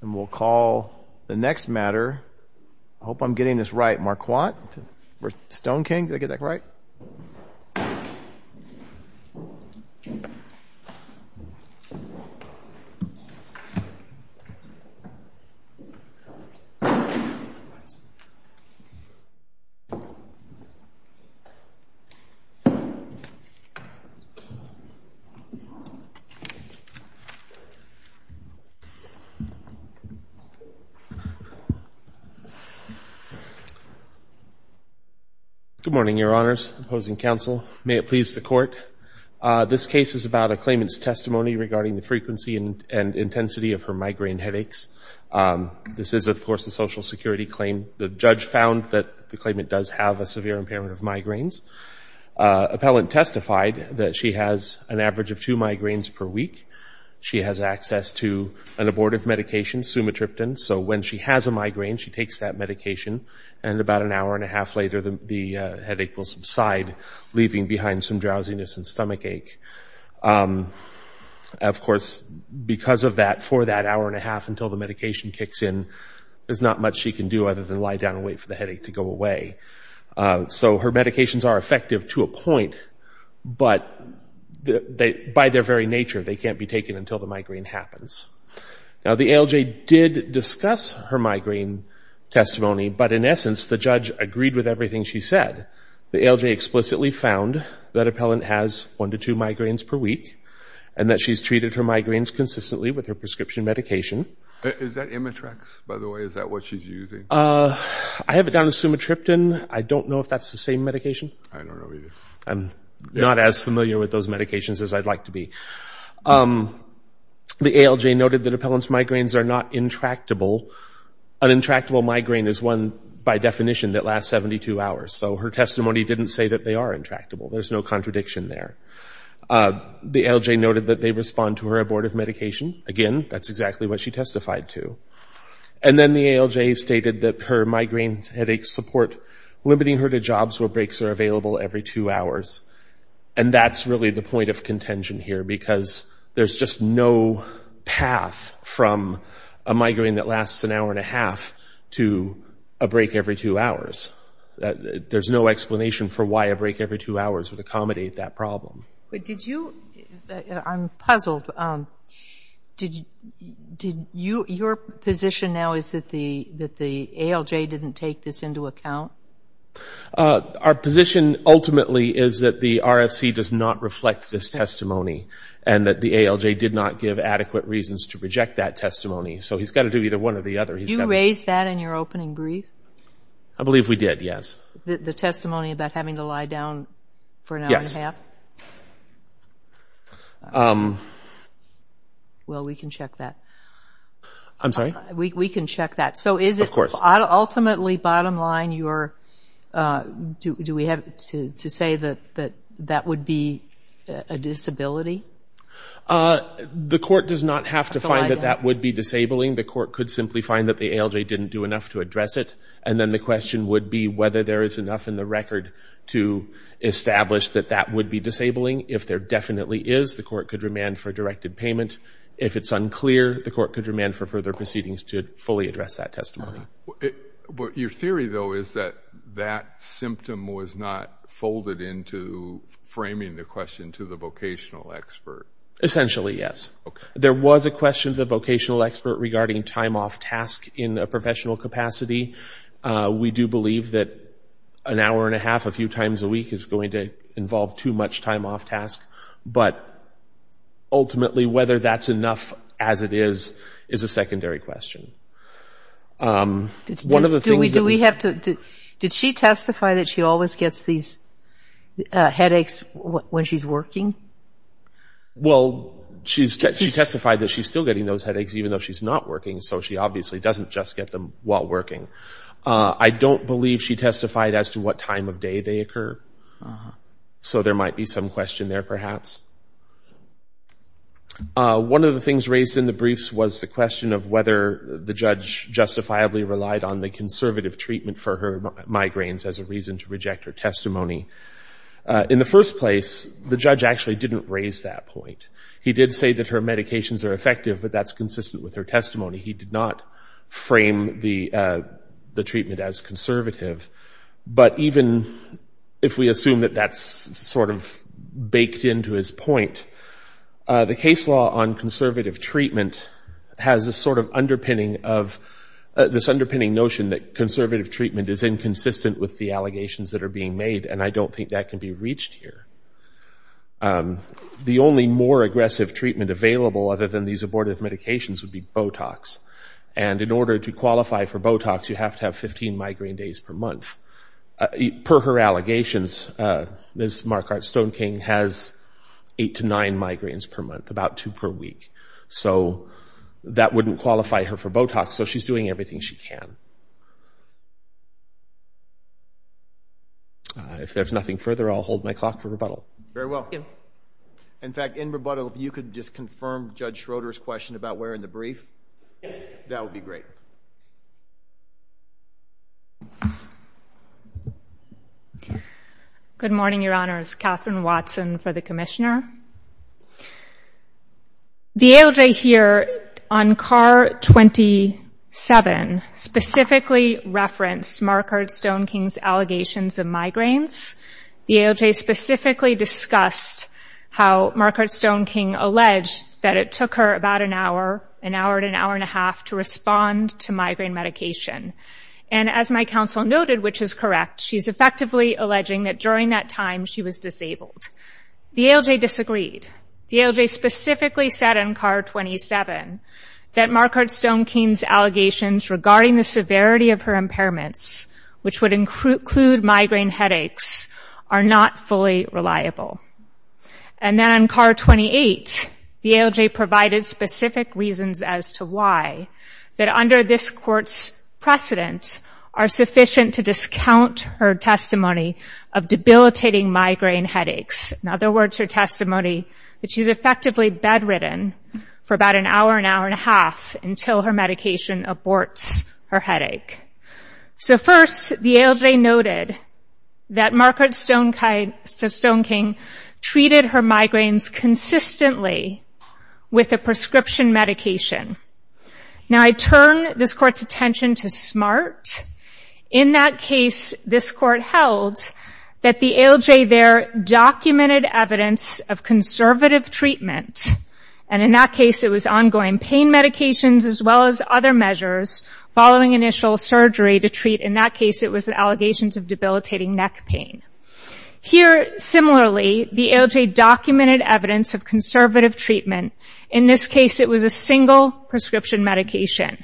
And we'll call the next matter, I hope I'm getting this right, Marquardt-Stoneking, did I get that right? Good morning, Your Honors. Opposing counsel. May it please the Court. This case is about a claimant's testimony regarding the frequency and intensity of her migraine headaches. This is, of course, a Social Security claim. The judge found that the claimant does have a severe impairment of migraines. Appellant testified that she has an average of two migraines per week. She has access to an abortive medication, sumatriptan. So when she has a migraine, she takes that medication, and about an hour and a half later the headache will subside, leaving behind some drowsiness and stomach ache. Of course, because of that, for that hour and a half until the medication kicks in, there's not much she can do other than lie down and wait for the headache to go away. So her medications are effective to a point, but by their very nature, they can't be taken until the migraine happens. Now, the ALJ did discuss her migraine testimony, but in essence, the judge agreed with everything she said. The ALJ explicitly found that appellant has one to two migraines per week and that she's treated her migraines consistently with her prescription medication. Is that Imitrex, by the way, is that what she's using? I have it down as sumatriptan. I don't know if that's the same medication. I'm not as familiar with those medications as I'd like to be. The ALJ noted that appellant's migraines are not intractable. An intractable migraine is one, by definition, that lasts 72 hours. So her testimony didn't say that they are intractable. There's no contradiction there. The ALJ noted that they respond to her abortive medication. Again, that's exactly what she testified to. And then the ALJ stated that her migraine headaches support limiting her to jobs where breaks are available every two hours. And that's really the point of contention here because there's just no path from a migraine that lasts an hour and a half to a break every two hours. There's no explanation for why a break every two hours would accommodate that problem. I'm puzzled. Your position now is that the ALJ didn't take this into account? Our position ultimately is that the RFC does not reflect this testimony and that the ALJ did not give adequate reasons to reject that testimony. So he's got to do either one or the other. Did you raise that in your opening brief? I believe we did, yes. The testimony about having to lie down for an hour and a half? Well, we can check that. I'm sorry? We can check that. Of course. Ultimately, bottom line, do we have to say that that would be a disability? The court does not have to find that that would be disabling. The court could simply find that the ALJ didn't do enough to address it. And then the question would be whether there is enough in the record to establish that that would be disabling. If there definitely is, the court could remand for a directed payment. If it's unclear, the court could remand for further proceedings to fully address that testimony. Your theory, though, is that that symptom was not folded into framing the question to the vocational expert? Essentially, yes. There was a question to the vocational expert regarding time off task in a professional capacity. We do believe that an hour and a half a few times a week is going to involve too much time off task. But ultimately, whether that's enough as it is, is a secondary question. Did she testify that she always gets these headaches when she's working? Well, she testified that she's still getting those headaches even though she's not working. So she obviously doesn't just get them while working. I don't believe she testified as to what time of day they occur. So there might be some question there, perhaps. One of the things raised in the briefs was the question of whether the judge justifiably relied on the conservative treatment for her migraines as a reason to reject her testimony. In the first place, the judge actually didn't raise that point. He did say that her medications are effective, but that's consistent with her testimony. He did not frame the treatment as conservative. But even if we assume that that's sort of baked into his point, the case law on conservative treatment has this sort of underpinning notion that conservative treatment is inconsistent with the allegations that are being made. And I don't think that can be reached here. The only more aggressive treatment available other than these abortive medications would be Botox. And in order to qualify for Botox, you have to have 15 migraine days per month. Per her allegations, Ms. Marquardt-Stoneking has eight to nine migraines per month, about two per week. So that wouldn't qualify her for Botox. So she's doing everything she can. If there's nothing further, I'll hold my clock for rebuttal. Very well. In fact, in rebuttal, if you could just confirm Judge Schroeder's question about where in the brief, that would be great. Good morning, Your Honors. Katherine Watson for the commissioner. The ALJ here on C.A.R. 27 specifically referenced Marquardt-Stoneking's allegations of migraines. The ALJ specifically discussed how Marquardt-Stoneking alleged that it took her about an hour, an hour to an hour and a half, to respond to migraine medication. And as my counsel noted, which is correct, she's effectively alleging that during that time, she was disabled. The ALJ disagreed. The ALJ specifically said in C.A.R. 27 that Marquardt-Stoneking's allegations regarding the severity of her impairments, which would include migraine headaches, are not fully reliable. And then on C.A.R. 28, the ALJ provided specific reasons as to why, that under this court's precedent, are sufficient to discount her testimony of debilitating migraine headaches. In other words, her testimony that she's effectively bedridden for about an hour, an hour and a half, until her medication aborts her headache. So first, the ALJ noted that Marquardt-Stoneking treated her migraines consistently with a prescription medication. Now I turn this court's attention to SMART. In that case, this court held that the ALJ there documented evidence of conservative treatment. And in that case, it was ongoing pain medications as well as other measures following initial surgery to treat, in that case, it was allegations of debilitating neck pain. Here, similarly, the ALJ documented evidence of conservative treatment. In this case, it was a single prescription medication.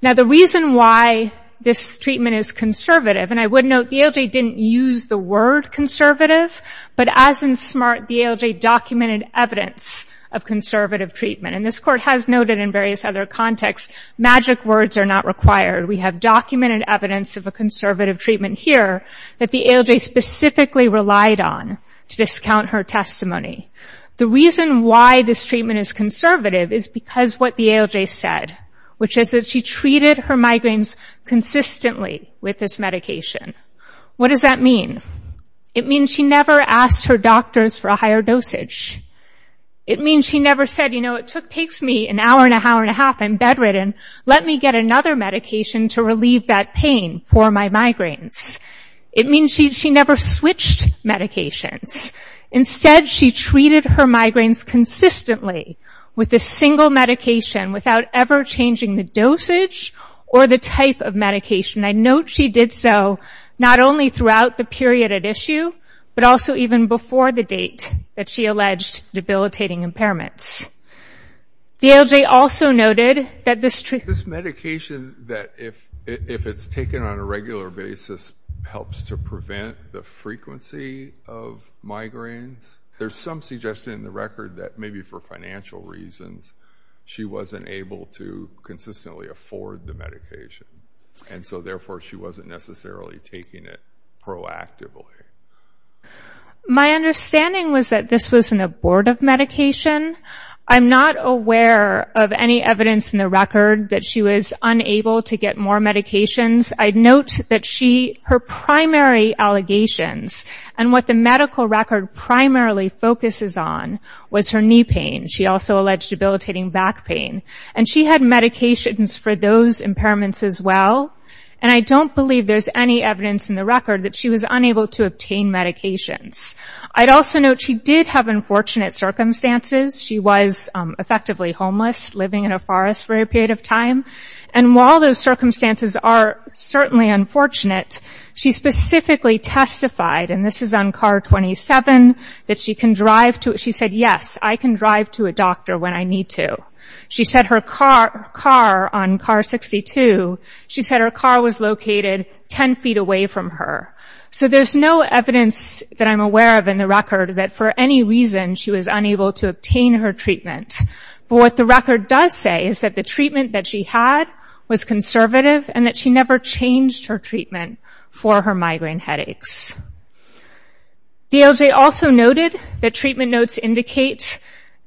Now the reason why this treatment is conservative, and I would note the ALJ didn't use the word conservative, but as in SMART, the ALJ documented evidence of conservative treatment. And this court has noted in various other contexts, magic words are not required. We have documented evidence of a conservative treatment here that the ALJ specifically relied on to discount her testimony. The reason why this treatment is conservative is because what the ALJ said, which is that she treated her migraines consistently with this medication. What does that mean? It means she never asked her doctors for a higher dosage. It means she never said, you know, it takes me an hour and a half, I'm bedridden, let me get another medication to relieve that pain for my migraines. It means she never switched medications. Instead, she treated her migraines consistently with this single medication, without ever changing the dosage or the type of medication. I note she did so not only throughout the period at issue, but also even before the date that she alleged debilitating impairments. The ALJ also noted that this treatment... This medication, that if it's taken on a regular basis, helps to prevent the frequency of migraines. There's some suggestion in the record that maybe for financial reasons, she wasn't able to consistently afford the medication. And so, therefore, she wasn't necessarily taking it proactively. My understanding was that this was an abortive medication. I'm not aware of any evidence in the record that she was unable to get more medications. I note that her primary allegations, and what the medical record primarily focuses on, was her knee pain. She also alleged debilitating back pain. And she had medications for those impairments as well. And I don't believe there's any evidence in the record that she was unable to obtain medications. I'd also note she did have unfortunate circumstances. She was effectively homeless, living in a forest for a period of time. And while those circumstances are certainly unfortunate, she specifically testified, and this is on CAR 27, that she can drive to... She said, yes, I can drive to a doctor when I need to. She said her car, on CAR 62, she said her car was located 10 feet away from her. So there's no evidence that I'm aware of in the record that for any reason, she was unable to obtain her treatment. But what the record does say is that the treatment that she had was conservative, and that she never changed her treatment for her migraine headaches. VLJ also noted that treatment notes indicate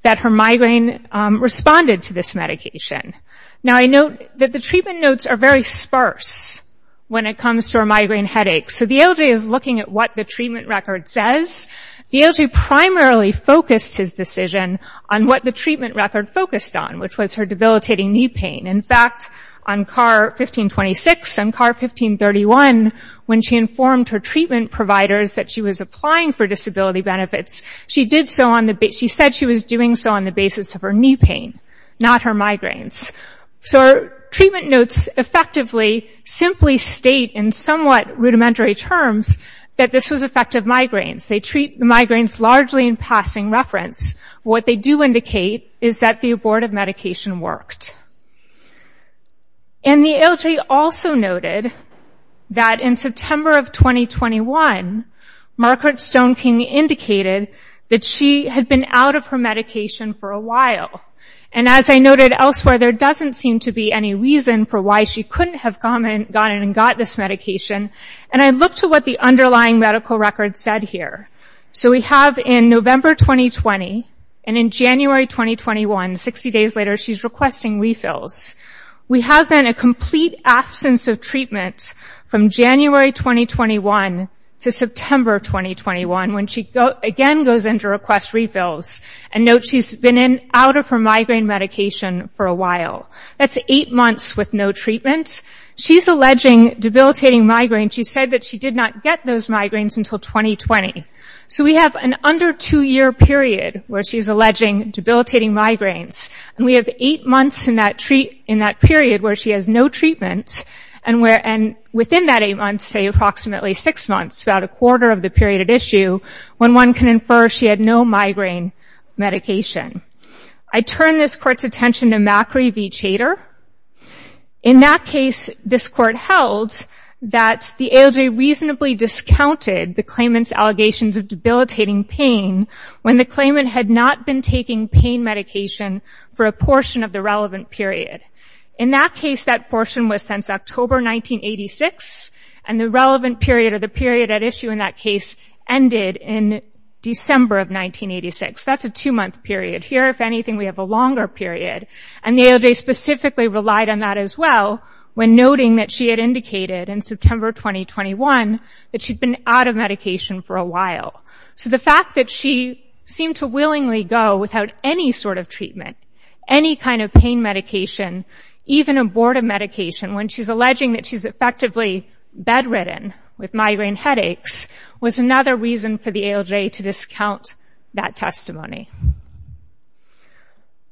that her migraine responded to this medication. Now, I note that the treatment notes are very sparse when it comes to her migraine headaches. So VLJ is looking at what the treatment record says. VLJ primarily focused his decision on what the treatment record focused on, which was her debilitating knee pain. In fact, on CAR 1526 and CAR 1531, when she informed her treatment providers that she was applying for disability benefits, she said she was doing so on the basis of her knee pain, not her migraines. So treatment notes effectively simply state in somewhat rudimentary terms that this was effective migraines. They treat migraines largely in passing reference. What they do indicate is that the abortive medication worked. And VLJ also noted that in September of 2021, Margaret Stone King indicated that she had been out of her medication for a while. And as I noted elsewhere, there doesn't seem to be any reason for why she couldn't have gone in and gotten this medication. And I look to what the underlying medical record said here. So we have in November 2020 and in January 2021, 60 days later, she's requesting refills. We have then a complete absence of treatment from January 2021 to September 2021, when she again goes in to request refills. And note she's been out of her migraine medication for a while. That's eight months with no treatment. She's alleging debilitating migraine. She said that she did not get those migraines until 2020. So we have an under two-year period where she's alleging debilitating migraines. And we have eight months in that period where she has no treatment, and within that eight months, say approximately six months, about a quarter of the period at issue, when one can infer she had no migraine medication. I turn this Court's attention to Macri v. Chater. In that case, this Court held that the ALJ reasonably discounted the claimant's allegations of debilitating pain when the claimant had not been taking pain medication for a portion of the relevant period. In that case, that portion was since October 1986, and the relevant period or the period at issue in that case ended in December of 1986. That's a two-month period. Here, if anything, we have a longer period. And the ALJ specifically relied on that as well when noting that she had indicated in September 2021 that she'd been out of medication for a while. So the fact that she seemed to willingly go without any sort of treatment, any kind of pain medication, even abortive medication, when she's alleging that she's effectively bedridden with migraine headaches, was another reason for the ALJ to discount that testimony.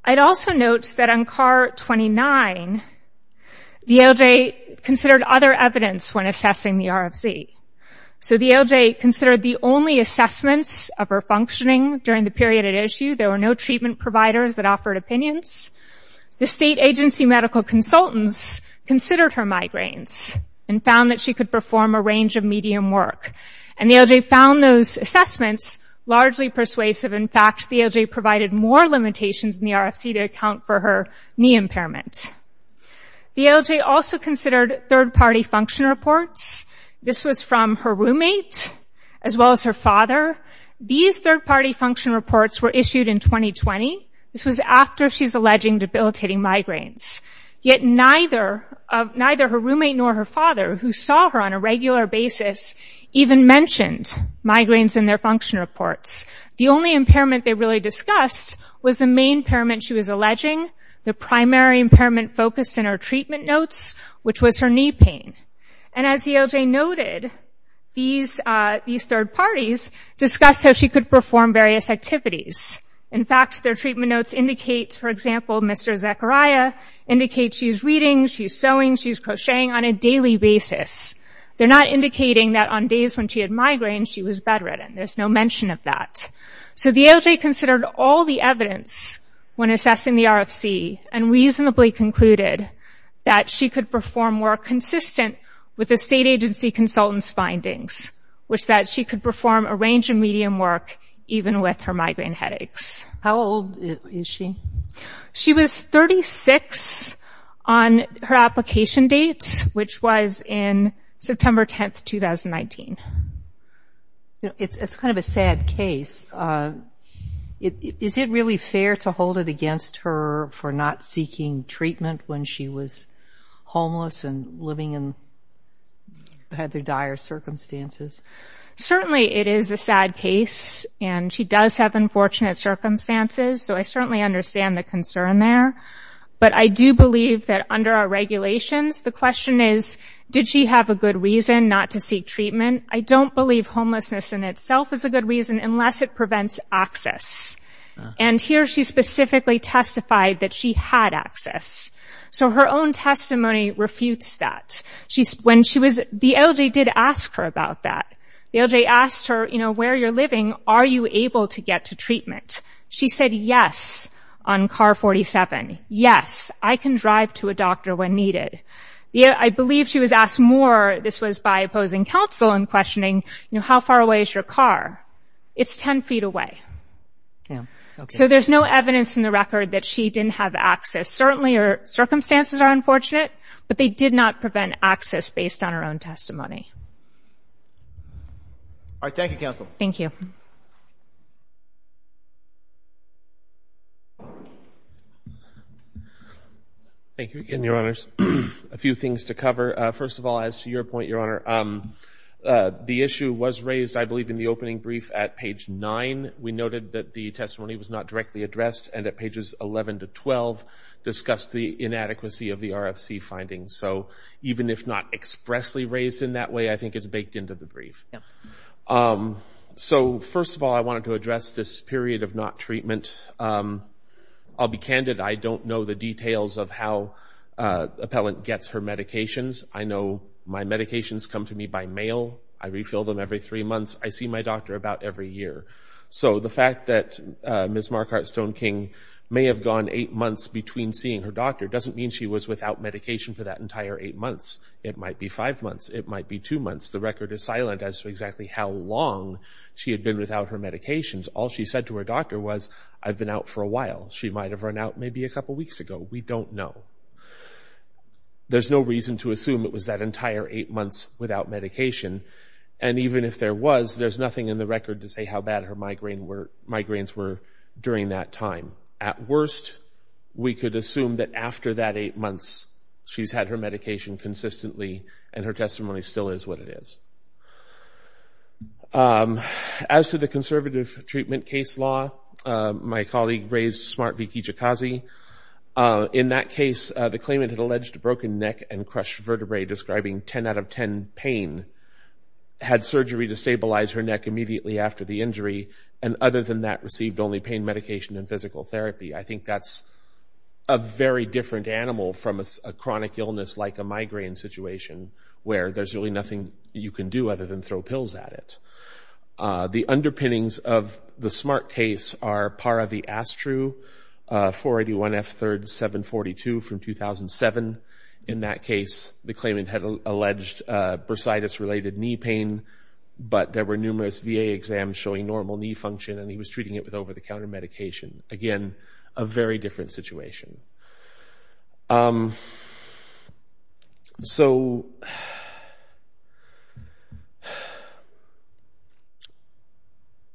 I'd also note that on CAR 29, the ALJ considered other evidence when assessing the RFZ. So the ALJ considered the only assessments of her functioning during the period at issue. There were no treatment providers that offered opinions. The state agency medical consultants considered her migraines and found that she could perform a range of medium work. And the ALJ found those assessments largely persuasive. In fact, the ALJ provided more limitations in the RFZ to account for her knee impairment. The ALJ also considered third-party function reports. This was from her roommate as well as her father. These third-party function reports were issued in 2020. This was after she's alleging debilitating migraines. Yet neither her roommate nor her father, who saw her on a regular basis, even mentioned migraines in their function reports. The only impairment they really discussed was the main impairment she was alleging, the primary impairment focused in her treatment notes, which was her knee pain. And as the ALJ noted, these third parties discussed how she could perform various activities. In fact, their treatment notes indicate, for example, Mr. Zechariah indicates she's reading, she's sewing, she's crocheting on a daily basis. They're not indicating that on days when she had migraines, she was bedridden. There's no mention of that. So the ALJ considered all the evidence when assessing the RFZ and reasonably concluded that she could perform work consistent with the state agency consultant's findings, which that she could perform a range of medium work even with her migraine headaches. How old is she? She was 36 on her application date, which was in September 10, 2019. It's kind of a sad case. Is it really fair to hold it against her for not seeking treatment when she was homeless and living in rather dire circumstances? Certainly it is a sad case, and she does have unfortunate circumstances, so I certainly understand the concern there. But I do believe that under our regulations, the question is, did she have a good reason not to seek treatment? I don't believe homelessness in itself is a good reason unless it prevents access. And here she specifically testified that she had access. So her own testimony refutes that. The ALJ did ask her about that. The ALJ asked her, you know, where you're living, are you able to get to treatment? She said yes on car 47. Yes, I can drive to a doctor when needed. I believe she was asked more. This was by opposing counsel and questioning, you know, how far away is your car? It's 10 feet away. So there's no evidence in the record that she didn't have access. Certainly her circumstances are unfortunate, but they did not prevent access based on her own testimony. All right, thank you, counsel. Thank you. Thank you again, Your Honors. A few things to cover. First of all, as to your point, Your Honor, the issue was raised, I believe, in the opening brief at page 9. We noted that the testimony was not directly addressed, and at pages 11 to 12 discussed the inadequacy of the RFC findings. So even if not expressly raised in that way, I think it's baked into the brief. So first of all, I wanted to address this period of not treatment. I'll be candid. I don't know the details of how an appellant gets her medications. I know my medications come to me by mail. I refill them every three months. I see my doctor about every year. So the fact that Ms. Marquardt Stoneking may have gone eight months between seeing her doctor doesn't mean she was without medication for that entire eight months. It might be five months. It might be two months. The record is silent as to exactly how long she had been without her medications. All she said to her doctor was, I've been out for a while. She might have run out maybe a couple weeks ago. We don't know. There's no reason to assume it was that entire eight months without medication, and even if there was, there's nothing in the record to say how bad her migraines were during that time. At worst, we could assume that after that eight months, she's had her medication consistently and her testimony still is what it is. As to the conservative treatment case law, my colleague raised Smart Vickie Jakazi. In that case, the claimant had alleged a broken neck and crushed vertebrae, had surgery to stabilize her neck immediately after the injury, and other than that, received only pain medication and physical therapy. I think that's a very different animal from a chronic illness like a migraine situation where there's really nothing you can do other than throw pills at it. The underpinnings of the Smart case are Para V. Astru, 481 F. 3rd, 742 from 2007. In that case, the claimant had alleged bursitis-related knee pain, but there were numerous VA exams showing normal knee function, and he was treating it with over-the-counter medication. Again, a very different situation. So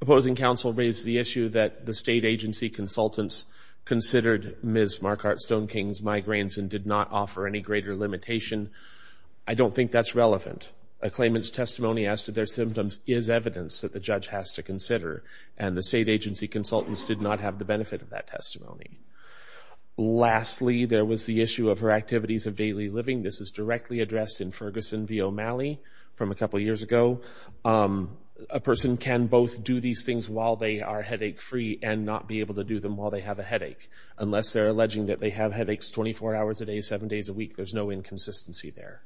opposing counsel raised the issue that the state agency consultants considered Ms. Marquardt-Stoneking's migraines and did not offer any greater limitation. I don't think that's relevant. A claimant's testimony as to their symptoms is evidence that the judge has to consider, and the state agency consultants did not have the benefit of that testimony. Lastly, there was the issue of her activities of daily living. This is directly addressed in Ferguson v. O'Malley from a couple years ago. A person can both do these things while they are headache-free and not be able to do them while they have a headache. Unless they're alleging that they have headaches 24 hours a day, 7 days a week, there's no inconsistency there.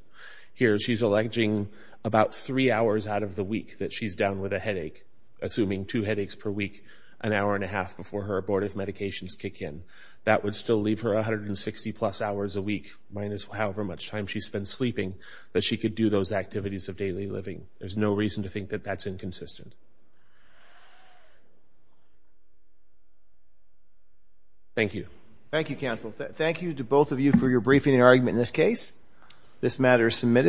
Here she's alleging about 3 hours out of the week that she's down with a headache, assuming 2 headaches per week, an hour and a half before her abortive medications kick in. That would still leave her 160-plus hours a week, minus however much time she spends sleeping, that she could do those activities of daily living. There's no reason to think that that's inconsistent. Thank you. Thank you, counsel. Thank you to both of you for your briefing and argument in this case. This matter is submitted.